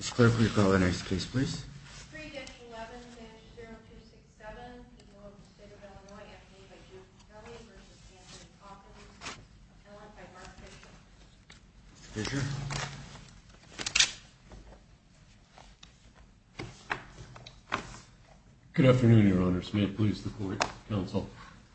Mr. Clerk, will you call the next case, please? 3-11-0267, the court of the State of Illinois, Anthony v. Judy Kelly v. Anthony Hawkins, appellant by Mark Fisher. Mr. Fisher? Good afternoon, Your Honors. May it please the Court, Counsel.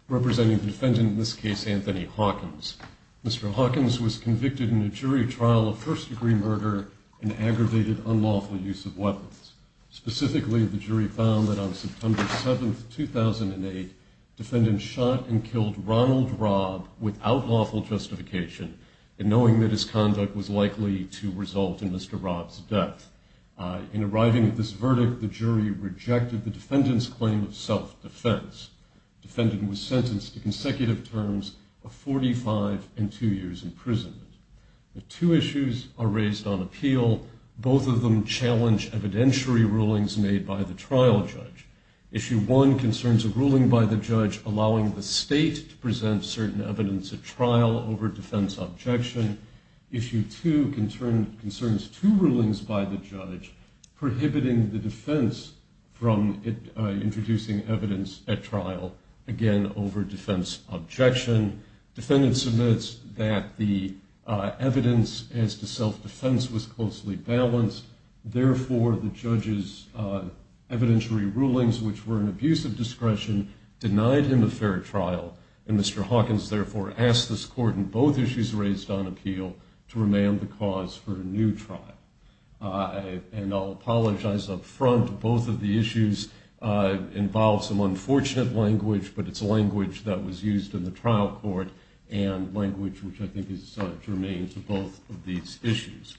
Representing the defendant in this case, Anthony Hawkins. Mr. Hawkins was convicted in a jury trial of first-degree murder and aggravated unlawful use of weapons. Specifically, the jury found that on September 7, 2008, defendant shot and killed Ronald Robb without lawful justification, and knowing that his conduct was likely to result in Mr. Robb's death. In arriving at this verdict, the jury rejected the defendant's claim of self-defense. Defendant was sentenced to consecutive terms of 45 and two years imprisonment. Two issues are raised on appeal. Both of them challenge evidentiary rulings made by the trial judge. Issue one concerns a ruling by the judge allowing the state to present certain evidence at trial over defense objection. Issue two concerns two rulings by the judge prohibiting the defense from introducing evidence at trial, again, over defense objection. Defendant submits that the evidence as to self-defense was closely balanced. Therefore, the judge's evidentiary rulings, which were an abuse of discretion, denied him a fair trial. And Mr. Hawkins, therefore, asked this court in both issues raised on appeal to remand the cause for a new trial. And I'll apologize up front. Both of the issues involve some unfortunate language, but it's language that was used in the trial court and language which I think is germane to both of these issues.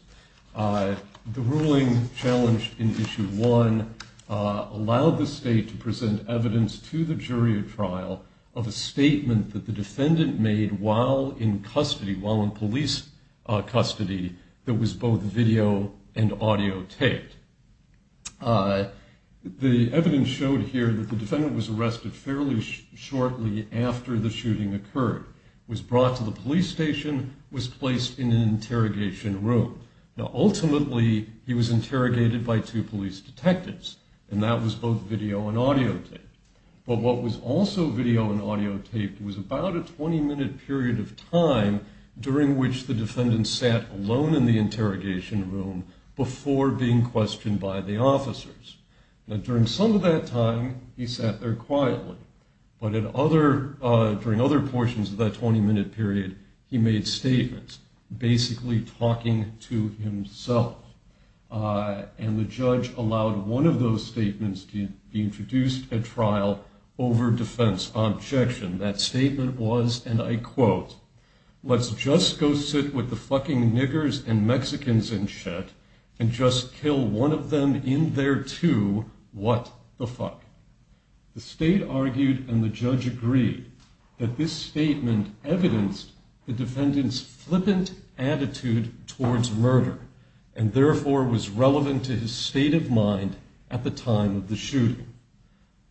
The ruling challenged in issue one allowed the state to present evidence to the jury at trial of a statement that the defendant made while in custody, while in police custody, that was both video and audio taped. The evidence showed here that the defendant was arrested fairly shortly after the shooting occurred, was brought to the police station, was placed in an interrogation room. Now, ultimately, he was interrogated by two police detectives, and that was both video and audio taped. But what was also video and audio taped was about a 20-minute period of time during which the defendant sat alone in the interrogation room before being questioned by the officers. Now, during some of that time, he sat there quietly. But during other portions of that 20-minute period, he made statements, basically talking to himself. And the judge allowed one of those statements to be introduced at trial over defense objection. That statement was, and I quote, Let's just go sit with the fucking niggers and Mexicans and shit and just kill one of them in there too. What the fuck? The state argued and the judge agreed that this statement evidenced the defendant's flippant attitude towards murder and therefore was relevant to his state of mind at the time of the shooting.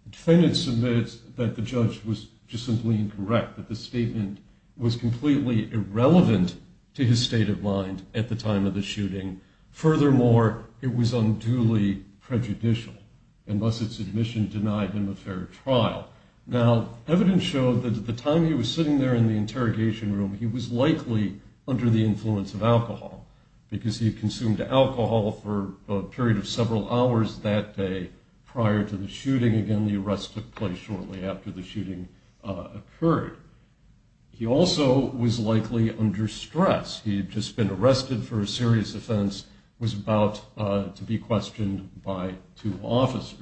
The defendant submits that the judge was just simply incorrect, that the statement was completely irrelevant to his state of mind at the time of the shooting. Furthermore, it was unduly prejudicial, and thus its admission denied him a fair trial. Now, evidence showed that at the time he was sitting there in the interrogation room, he was likely under the influence of alcohol, because he consumed alcohol for a period of several hours that day prior to the shooting. Again, the arrest took place shortly after the shooting occurred. He also was likely under stress. He had just been arrested for a serious offense, was about to be questioned by two officers.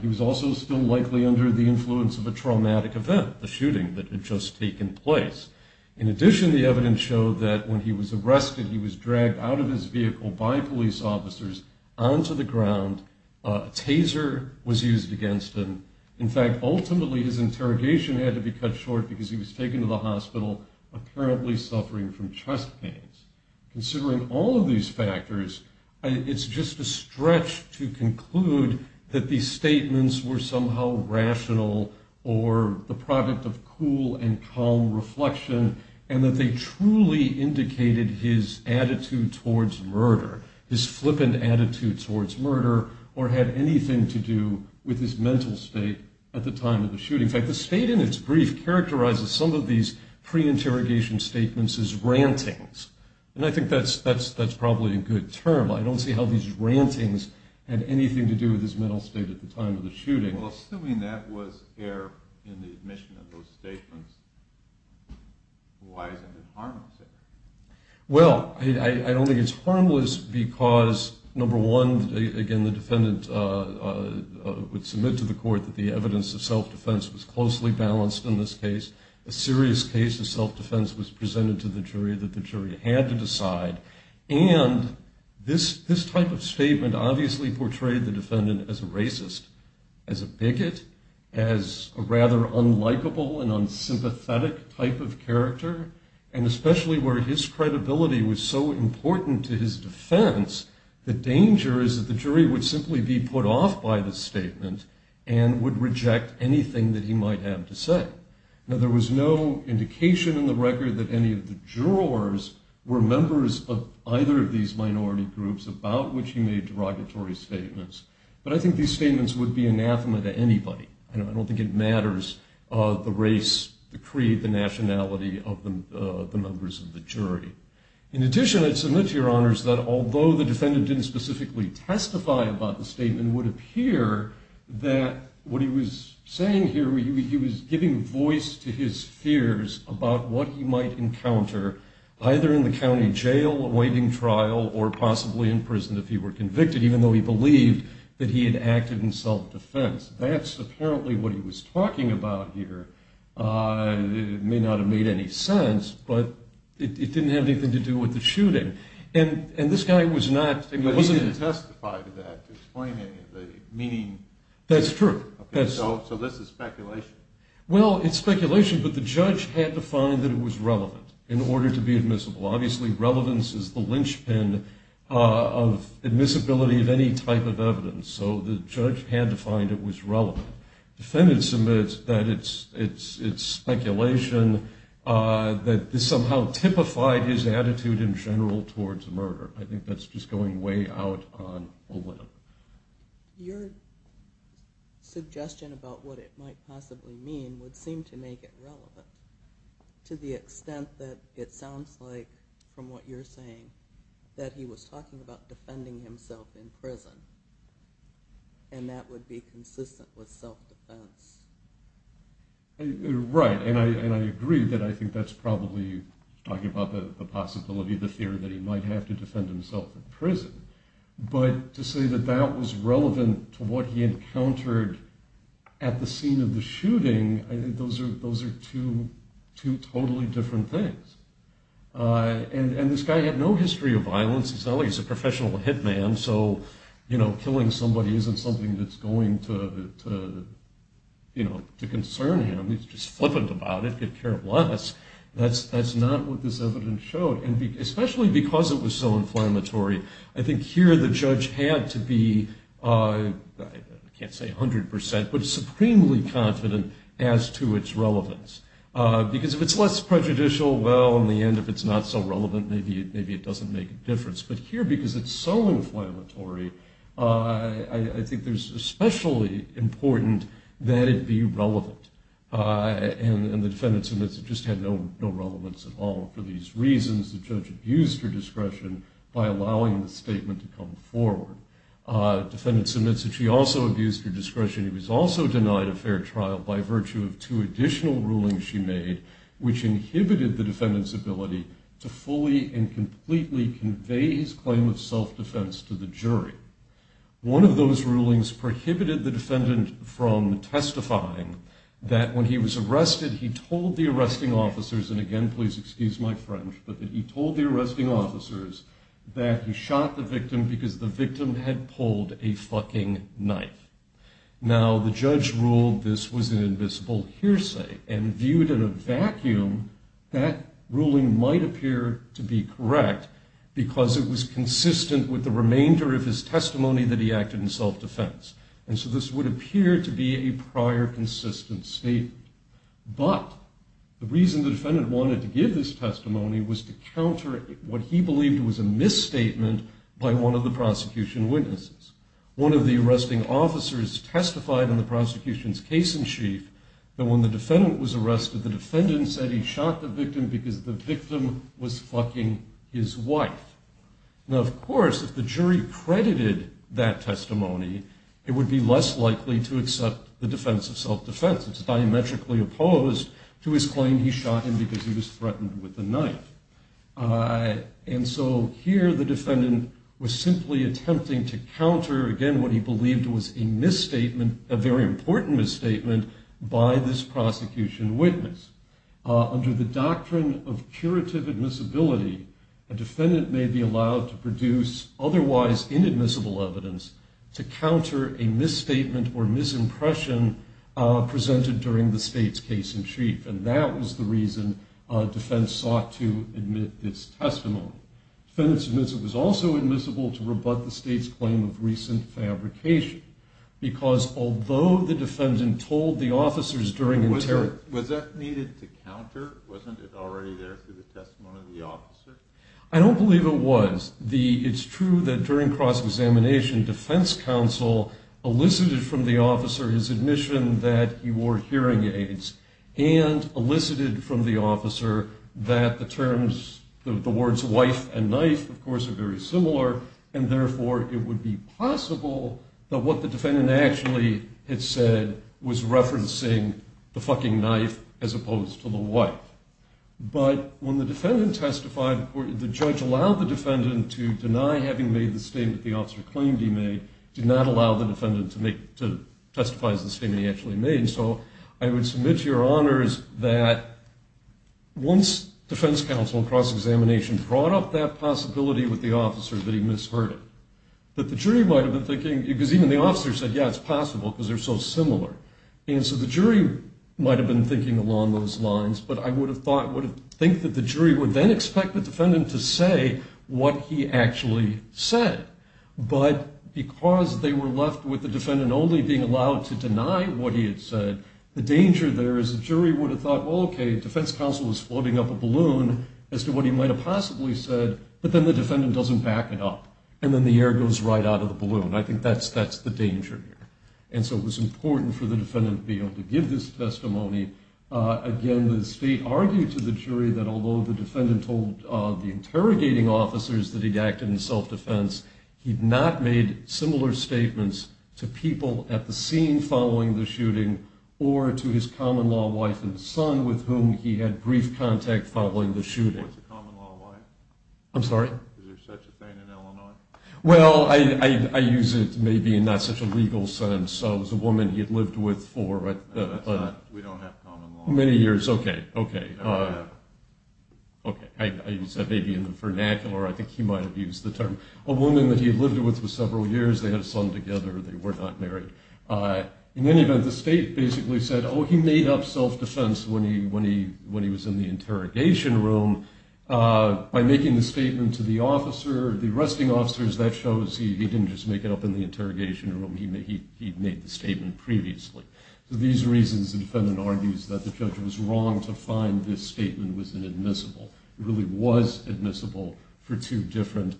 He was also still likely under the influence of a traumatic event, the shooting that had just taken place. In addition, the evidence showed that when he was arrested, he was dragged out of his vehicle by police officers onto the ground. A taser was used against him. In fact, ultimately his interrogation had to be cut short because he was taken to the hospital, apparently suffering from chest pains. Considering all of these factors, it's just a stretch to conclude that these statements were somehow rational or the product of cool and calm reflection, and that they truly indicated his attitude towards murder, his flippant attitude towards murder, or had anything to do with his mental state at the time of the shooting. In fact, the state in its brief characterizes some of these pre-interrogation statements as rantings, and I think that's probably a good term. I don't see how these rantings had anything to do with his mental state at the time of the shooting. Well, assuming that was error in the admission of those statements, why isn't it harmless error? Well, I don't think it's harmless because, number one, again, the defendant would submit to the court that the evidence of self-defense was closely balanced in this case, a serious case of self-defense was presented to the jury that the jury had to decide, and this type of statement obviously portrayed the defendant as a racist, as a bigot, as a rather unlikable and unsympathetic type of character, and especially where his credibility was so important to his defense, the danger is that the jury would simply be put off by the statement and would reject anything that he might have to say. Now, there was no indication in the record that any of the jurors were members of either of these minority groups about which he made derogatory statements, but I think these statements would be anathema to anybody. I don't think it matters the race, the creed, the nationality of the members of the jury. In addition, I'd submit to your honors that although the defendant didn't specifically testify about the statement, it would appear that what he was saying here, he was giving voice to his fears about what he might encounter either in the county jail awaiting trial or possibly in prison if he were convicted, even though he believed that he had acted in self-defense. That's apparently what he was talking about here. It may not have made any sense, but it didn't have anything to do with the shooting, and this guy was not... But he didn't testify to that, explaining the meaning... That's true. So this is speculation. Well, it's speculation, but the judge had to find that it was relevant in order to be admissible. Obviously, relevance is the linchpin of admissibility of any type of evidence, so the judge had to find it was relevant. The defendant submits that it's speculation that this somehow typified his attitude in general towards murder. I think that's just going way out on a limb. Your suggestion about what it might possibly mean would seem to make it relevant to the extent that it sounds like, from what you're saying, that he was talking about defending himself in prison, and that would be consistent with self-defense. Right, and I agree that I think that's probably talking about the possibility, the fear that he might have to defend himself in prison. But to say that that was relevant to what he encountered at the scene of the shooting, I think those are two totally different things. And this guy had no history of violence. He's a professional hitman, so killing somebody isn't something that's going to concern him. He's just flippant about it, give care of less. That's not what this evidence showed, especially because it was so inflammatory. I think here the judge had to be, I can't say 100%, but supremely confident as to its relevance, because if it's less prejudicial, well, in the end, if it's not so relevant, maybe it doesn't make a difference. But here, because it's so inflammatory, I think it's especially important that it be relevant. And the defendant admits it just had no relevance at all. For these reasons, the judge abused her discretion by allowing the statement to come forward. The defendant admits that she also abused her discretion. He was also denied a fair trial by virtue of two additional rulings she made, which inhibited the defendant's ability to fully and completely convey his claim of self-defense to the jury. One of those rulings prohibited the defendant from testifying that when he was arrested, he told the arresting officers, and again, please excuse my French, but that he told the arresting officers that he shot the victim because the victim had pulled a fucking knife. Now, the judge ruled this was an invisible hearsay, and viewed in a vacuum, that ruling might appear to be correct because it was consistent with the remainder of his testimony that he acted in self-defense. And so this would appear to be a prior consistent statement. But the reason the defendant wanted to give this testimony was to counter what he believed was a misstatement by one of the prosecution witnesses. One of the arresting officers testified in the prosecution's case in chief that when the defendant was arrested, the defendant said he shot the victim because the victim was fucking his wife. Now, of course, if the jury credited that testimony, it would be less likely to accept the defense of self-defense. It's diametrically opposed to his claim he shot him because he was threatened with a knife. And so here the defendant was simply attempting to counter, again, what he believed was a misstatement, a very important misstatement, by this prosecution witness. Under the doctrine of curative admissibility, a defendant may be allowed to produce otherwise inadmissible evidence to counter a misstatement or misimpression presented during the state's case in chief. And that was the reason defense sought to admit this testimony. Defendant's admissibility was also admissible to rebut the state's claim of recent fabrication because although the defendant told the officers during interrogation... Was that needed to counter? Wasn't it already there through the testimony of the officer? I don't believe it was. It's true that during cross-examination, defense counsel elicited from the officer his admission that he wore hearing aids and elicited from the officer that the terms, the words wife and knife, of course, are very similar and therefore it would be possible that what the defendant actually had said was referencing the fucking knife as opposed to the wife. But when the defendant testified, the judge allowed the defendant to deny having made the statement the officer claimed he made, did not allow the defendant to testify as the statement he actually made. And so I would submit to your honors that once defense counsel in cross-examination brought up that possibility with the officer that he misheard it, that the jury might have been thinking... Because even the officer said, yeah, it's possible because they're so similar. And so the jury might have been thinking along those lines, but I would have thought, would have think that the jury would then expect the defendant to say what he actually said. But because they were left with the defendant only being allowed to deny what he had said, the danger there is the jury would have thought, well, okay, defense counsel was floating up a balloon as to what he might have possibly said, but then the defendant doesn't back it up and then the air goes right out of the balloon. I think that's the danger here. And so it was important for the defendant to be able to give this testimony. Again, the state argued to the jury that although the defendant told the interrogating officers that he'd acted in self-defense, he'd not made similar statements to people at the scene following the shooting or to his common-law wife and son with whom he had brief contact following the shooting. What's a common-law wife? I'm sorry? Is there such a thing in Illinois? Well, I use it maybe in not such a legal sense. It was a woman he had lived with for... We don't have common-law... Many years, okay, okay. I use that maybe in the vernacular. I think he might have used the term. A woman that he had lived with for several years. They had a son together. They were not married. In any event, the state basically said, oh, he made up self-defense when he was in the interrogation room by making the statement to the officer. The arresting officers, that shows he didn't just make it up in the interrogation room. He made the statement previously. For these reasons, the defendant argues that the judge was wrong to find this statement was inadmissible. It really was admissible for two different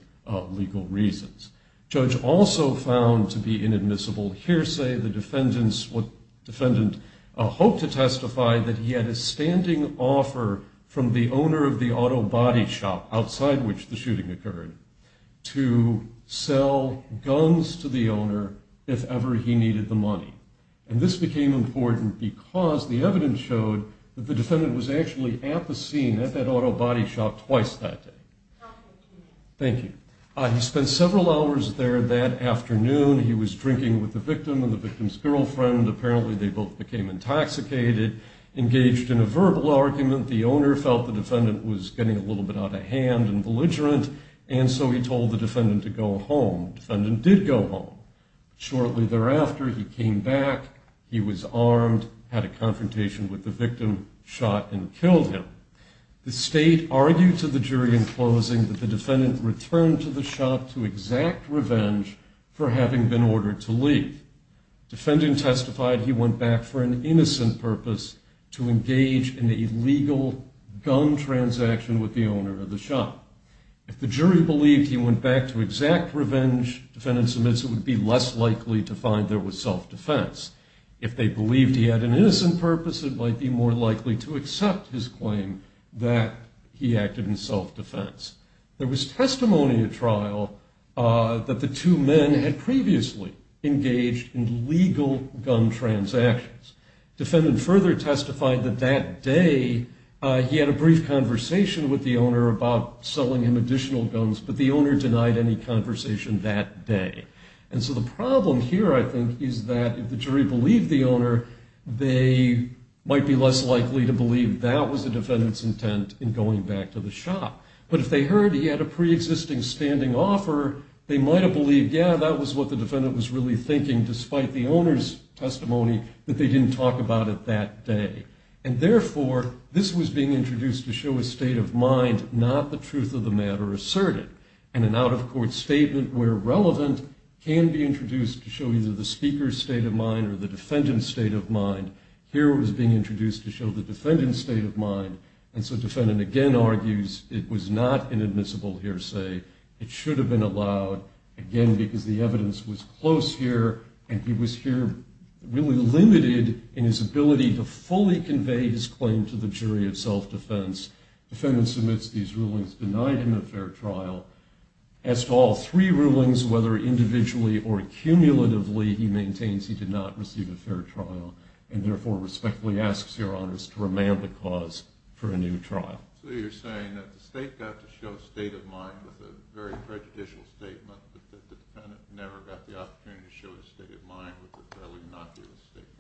legal reasons. Judge also found to be inadmissible hearsay. The defendant hoped to testify that he had a standing offer from the owner of the auto body shop outside which the shooting occurred to sell guns to the owner if ever he needed the money. And this became important because the evidence showed that the defendant was actually at the scene at that auto body shop twice that day. Thank you. He spent several hours there that afternoon. He was drinking with the victim and the victim's girlfriend. Apparently, they both became intoxicated. Engaged in a verbal argument, the owner felt the defendant was getting a little bit out of hand and belligerent, and so he told the defendant to go home. The defendant did go home. Shortly thereafter, he came back. He was armed, had a confrontation with the victim, shot, and killed him. The state argued to the jury in closing that the defendant returned to the shop to exact revenge for having been ordered to leave. Defendant testified he went back for an innocent purpose, to engage in an illegal gun transaction with the owner of the shop. If the jury believed he went back to exact revenge, defendant admits it would be less likely to find there was self-defense. If they believed he had an innocent purpose, it might be more likely to accept his claim that he acted in self-defense. There was testimony at trial that the two men had previously engaged in legal gun transactions. Defendant further testified that that day he had a brief conversation with the owner about selling him additional guns, but the owner denied any conversation that day. And so the problem here, I think, is that if the jury believed the owner, they might be less likely to believe that was the defendant's intent in going back to the shop. But if they heard he had a pre-existing standing offer, they might have believed, yeah, that was what the defendant was really thinking, despite the owner's testimony that they didn't talk about it that day. And therefore, this was being introduced to show a state of mind, not the truth of the matter asserted. In an out-of-court statement where relevant can be introduced to show either the speaker's state of mind or the defendant's state of mind, here it was being introduced to show the defendant's state of mind. And so defendant again argues it was not an admissible hearsay. It should have been allowed, again, because the evidence was close here, and he was here really limited in his ability to fully convey his claim to the jury of self-defense. Defendant submits these rulings, denied him a fair trial. As to all three rulings, whether individually or cumulatively, he maintains he did not receive a fair trial, and therefore respectfully asks Your Honors to remand the cause for a new trial. So you're saying that the state got to show a state of mind with a very prejudicial statement, that the defendant never got the opportunity to show his state of mind with a fairly innocuous statement?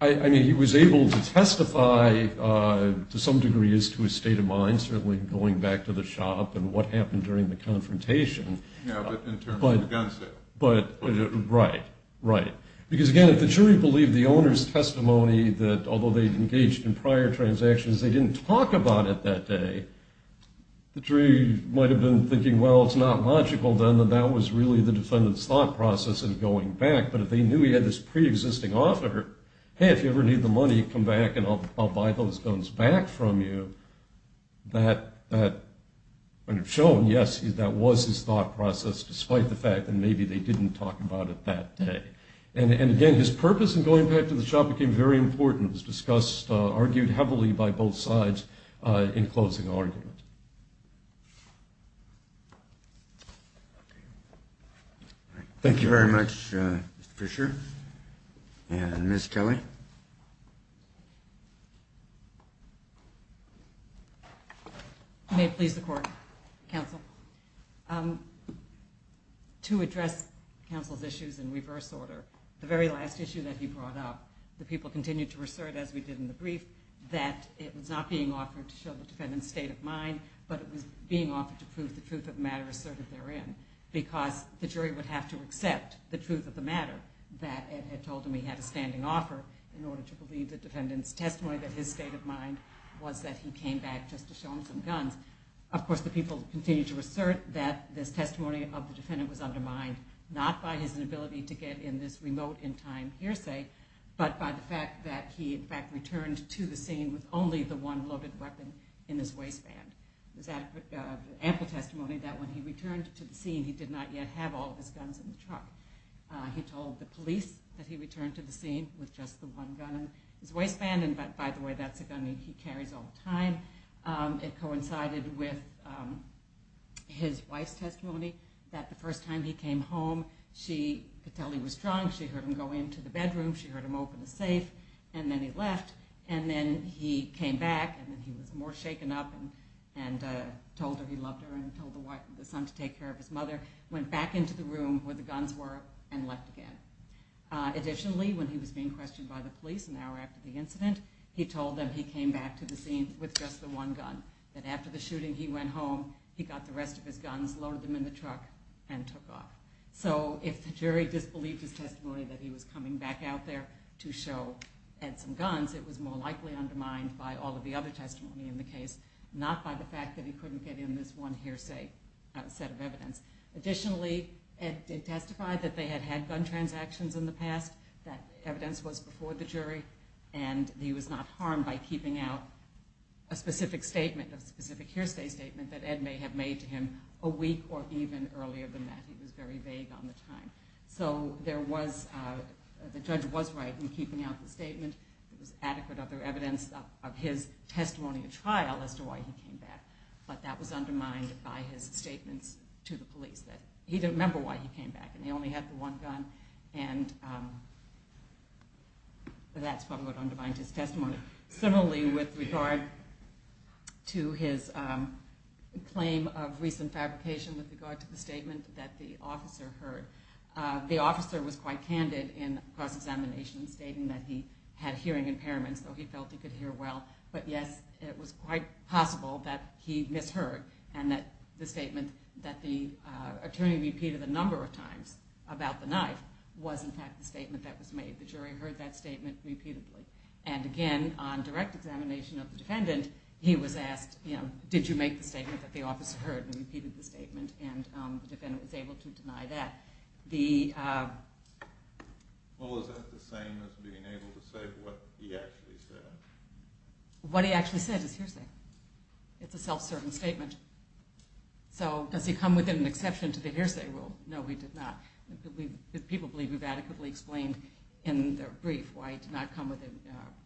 I mean, he was able to testify to some degree as to his state of mind, certainly going back to the shop and what happened during the confrontation. Yeah, but in terms of the gun sale. Right, right. Because again, if the jury believed the owner's testimony that although they'd engaged in prior transactions, they didn't talk about it that day, the jury might have been thinking, well, it's not logical, then, that that was really the defendant's thought process in going back. But if they knew he had this preexisting offer, hey, if you ever need the money, come back and I'll buy those guns back from you, that would have shown, yes, that was his thought process, despite the fact that maybe they didn't talk about it that day. And again, his purpose in going back to the shop became very important. And it was discussed, argued heavily by both sides in closing argument. Thank you very much, Mr. Fisher. And Ms. Kelly. May it please the Court, Counsel. To address Counsel's issues in reverse order, the very last issue that he brought up, the people continued to assert, as we did in the brief, that it was not being offered to show the defendant's state of mind, but it was being offered to prove the truth of the matter asserted therein. Because the jury would have to accept the truth of the matter, that Ed had told him he had a standing offer, in order to believe the defendant's testimony that his state of mind was that he came back just to show him some guns. Of course, the people continued to assert that this testimony of the defendant was undermined, not by his inability to get in this remote-in-time hearsay, but by the fact that he, in fact, returned to the scene with only the one loaded weapon in his waistband. There's ample testimony that when he returned to the scene, he did not yet have all of his guns in the truck. He told the police that he returned to the scene with just the one gun in his waistband. And by the way, that's a gun he carries all the time. It coincided with his wife's testimony that the first time he came home, she could tell he was drunk. She heard him go into the bedroom, she heard him open the safe, and then he left. And then he came back, and he was more shaken up, and told her he loved her and told the son to take care of his mother. Went back into the room where the guns were and left again. Additionally, when he was being questioned by the police an hour after the incident, he told them he came back to the scene with just the one gun. And after the shooting, he went home, he got the rest of his guns, loaded them in the truck, and took off. So if the jury disbelieved his testimony that he was coming back out there to show Ed some guns, it was more likely undermined by all of the other testimony in the case, not by the fact that he couldn't get in this one hearsay set of evidence. Additionally, Ed testified that they had had gun transactions in the past. That evidence was before the jury, and he was not harmed by keeping out a specific statement of specific hearsay statement that Ed may have made to him a week or even earlier than that. He was very vague on the time. So the judge was right in keeping out the statement. There was adequate other evidence of his testimony at trial as to why he came back. But that was undermined by his statements to the police that he didn't remember why he came back, and he only had the one gun. And that's probably what undermined his testimony. Similarly, with regard to his claim of recent fabrication with regard to the statement that the officer heard, the officer was quite candid in cross-examination, stating that he had hearing impairments, though he felt he could hear well. But yes, it was quite possible that he misheard, and that the statement that the attorney repeated a number of times about the knife was in fact the statement that was made. The jury heard that statement repeatedly. And again, on direct examination of the defendant, he was asked, did you make the statement that the officer heard and repeated the statement? And the defendant was able to deny that. Well, is that the same as being able to say what he actually said? What he actually said is hearsay. It's a self-serving statement. So does he come within an exception to the hearsay rule? No, he did not. People believe we've adequately explained in the brief why he did not come within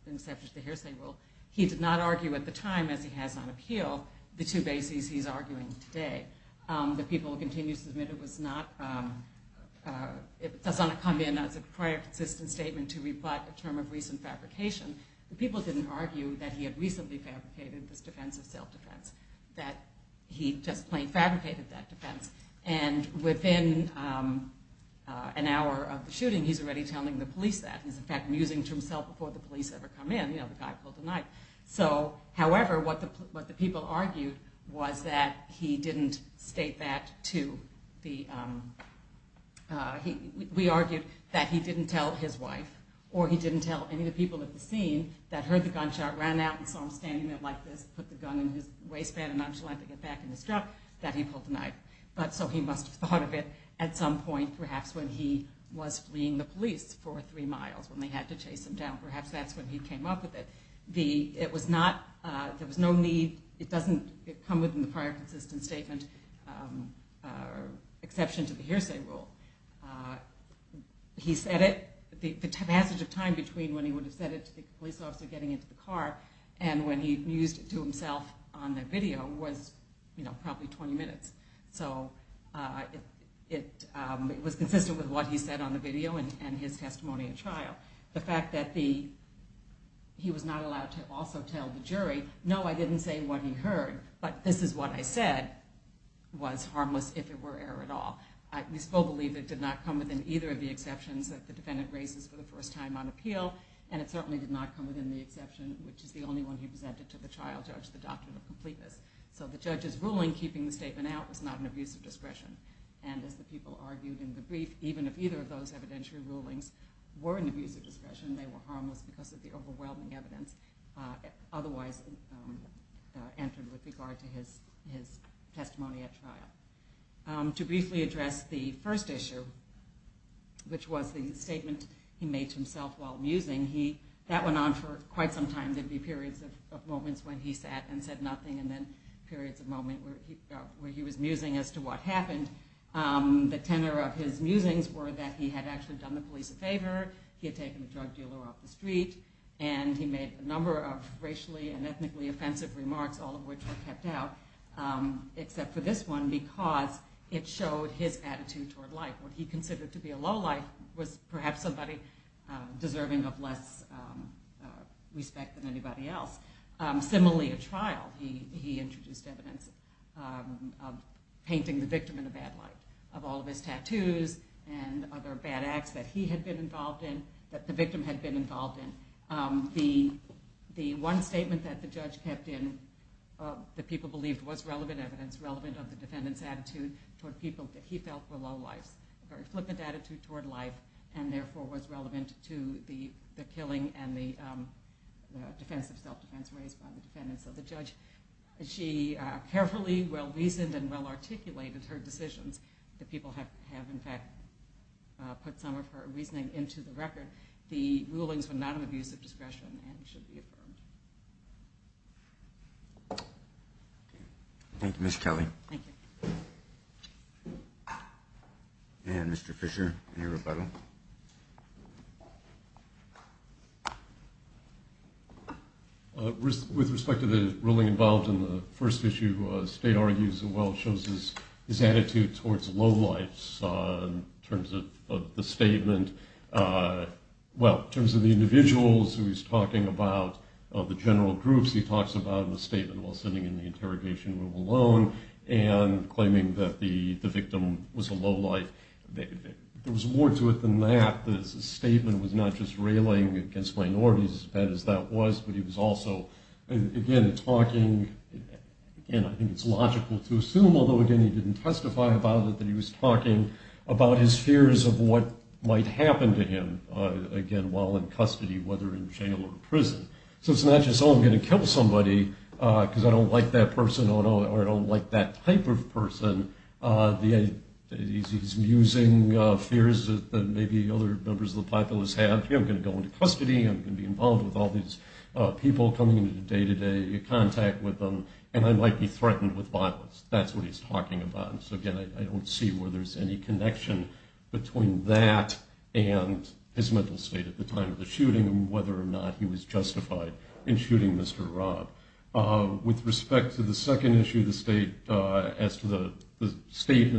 an exception to the hearsay rule. He did not argue at the time, as he has on appeal, the two bases he's arguing today. The people who continue to submit it was not, it does not come in as a prior consistent statement to re-plot the term of recent fabrication. The people didn't argue that he had recently fabricated this defense of self-defense, that he just plain fabricated that defense. And within an hour of the shooting, he's already telling the police that. He's, in fact, musing to himself before the police ever come in, you know, the guy pulled a knife. So, however, what the people argued was that he didn't state that to the, we argued that he didn't tell his wife, or he didn't tell any of the people at the scene that heard the gunshot, ran out, and saw him standing there like this, put the gun in his waistband, nonchalantly get back in his truck, that he pulled a knife. But, so he must have thought of it at some point, perhaps when he was fleeing the police for three miles, when they had to chase him down. Perhaps that's when he came up with it. It was not, there was no need, it doesn't come within the prior consistent statement, exception to the hearsay rule. He said it, the passage of time between when he would have said it to the police officer getting into the car, and when he mused it to himself on the video was, you know, probably 20 minutes. So, it was consistent with what he said on the video and his testimony at trial. The fact that he was not allowed to also tell the jury, no, I didn't say what he heard, but this is what I said, was harmless if it were error at all. I still believe it did not come within either of the exceptions that the defendant raises for the first time on appeal, and it certainly did not come within the exception, which is the only one he presented to the trial judge, the doctrine of completeness. So the judge's ruling, keeping the statement out, was not an abuse of discretion. And as the people argued in the brief, even if either of those evidentiary rulings were an abuse of discretion, they were harmless because of the overwhelming evidence otherwise entered with regard to his testimony at trial. To briefly address the first issue, which was the statement he made to himself while musing, that went on for quite some time. There'd be periods of moments when he sat and said nothing, and then periods of moments where he was musing as to what happened. The tenor of his musings were that he had actually done the police a favor, he had taken the drug dealer off the street, and he made a number of racially and ethnically offensive remarks, all of which were kept out, except for this one, because it showed his attitude toward life. What he considered to be a low life was perhaps somebody deserving of less respect than anybody else. Similarly, at trial, he introduced evidence of painting the victim in a bad light, of all of his tattoos and other bad acts that he had been involved in, that the victim had been involved in, and the one statement that the judge kept in that people believed was relevant evidence, relevant of the defendant's attitude toward people that he felt were low lives, a very flippant attitude toward life, and therefore was relevant to the killing and the defensive self-defense raised by the defendants. So the judge, she carefully, well-reasoned, and well-articulated her decisions. The people have in fact put some of her reasoning into the record. The rulings were not an abuse of discretion and should be affirmed. Thank you, Ms. Kelly. Thank you. And Mr. Fisher, any rebuttal? With respect to the ruling involved in the first issue, the state argues and well shows his attitude towards low lives in terms of the statement. Well, in terms of the individuals who he's talking about, of the general groups, he talks about in the statement while sitting in the interrogation room alone, and claiming that the victim was a low life. There was more to it than that. The statement was not just railing against minorities, as bad as that was, but he was also again talking, and I think it's logical to assume, although again he didn't testify about it, but he was talking about his fears of what might happen to him again while in custody, whether in jail or prison. So it's not just, oh, I'm going to kill somebody because I don't like that person, or I don't like that type of person. He's using fears that maybe other members of the populace have. Here, I'm going to go into custody, I'm going to be involved with all these people coming into day-to-day contact with them, and I might be threatened with violence. That's what he's talking about. So again, I don't see where there's any connection between that and his mental state at the time of the shooting, and whether or not he was justified in shooting Mr. Robb. With respect to the second issue, the statement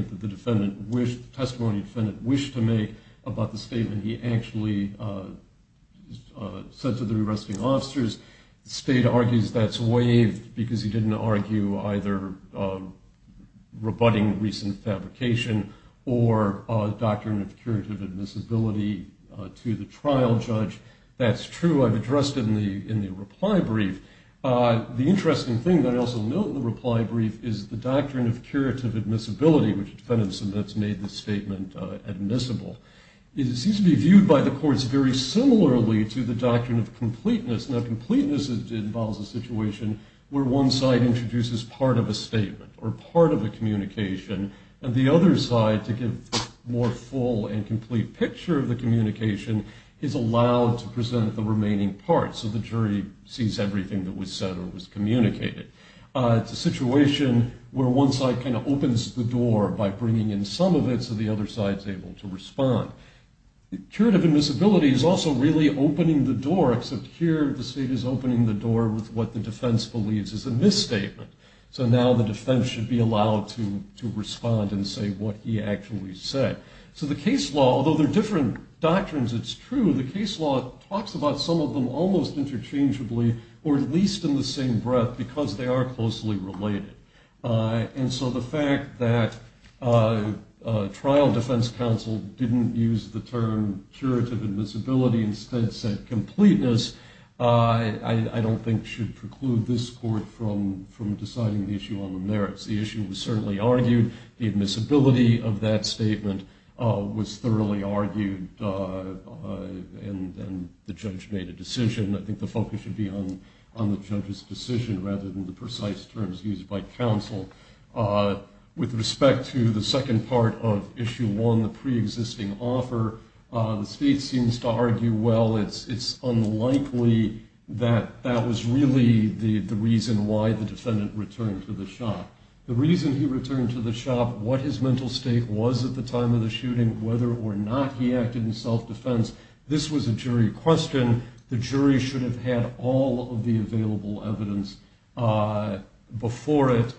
that the testimony defendant wished to make about the statement he actually said to the arresting officers, the state argues that's waived because he didn't argue either rebutting recent fabrication or a doctrine of curative admissibility to the trial judge. That's true. I've addressed it in the reply brief. The interesting thing that I also note in the reply brief is the doctrine of curative admissibility, which the defendant submits made the statement admissible. It seems to be viewed by the courts very similarly to the doctrine of completeness. Now, completeness involves a situation where one side introduces part of a statement or part of a communication, and the other side, to give a more full and complete picture of the communication, is allowed to present the remaining part so the jury sees everything that was said or was communicated. It's a situation where one side kind of opens the door by bringing in some of it so the other side's able to respond. Curative admissibility is also really opening the door, except here the state is opening the door with what the defense believes is a misstatement. So now the defense should be allowed to respond and say what he actually said. So the case law, although there are different doctrines, it's true, the case law talks about some of them almost interchangeably or at least in the same breath because they are closely related. And so the fact that trial defense counsel didn't use the term curative admissibility and instead said completeness, I don't think should preclude this court from deciding the issue on the merits. The issue was certainly argued. The admissibility of that statement was thoroughly argued and the judge made a decision. I think the focus should be on the judge's decision rather than the precise terms used by counsel. With respect to the second part of Issue 1, the pre-existing offer, the state seems to argue, well, it's unlikely that that was really the reason why the defendant returned to the shop. The reason he returned to the shop, what his mental state was at the time of the shooting, whether or not he acted in self-defense, this was a jury question. The jury should have had all of the available evidence before it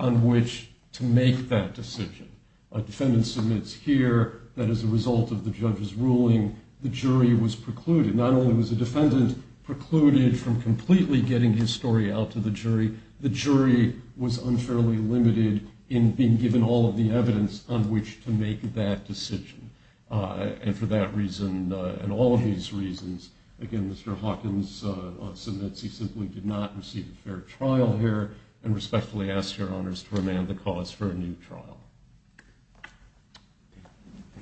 on which to make that decision. A defendant submits here that as a result of the judge's ruling, the jury was precluded. Not only was the defendant precluded from completely getting his story out to the jury, the jury was unfairly limited in being given all of the evidence on which to make that decision. And for that reason and all of these reasons, again, Mr. Hawkins submits that he simply did not receive a fair trial here and respectfully asks Your Honors to remand the cause for a new trial.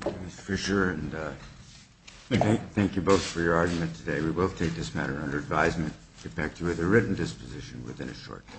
Thank you, Mr. Fisher, and thank you both for your argument today. We will take this matter under advisement and get back to you with a written disposition within a short time.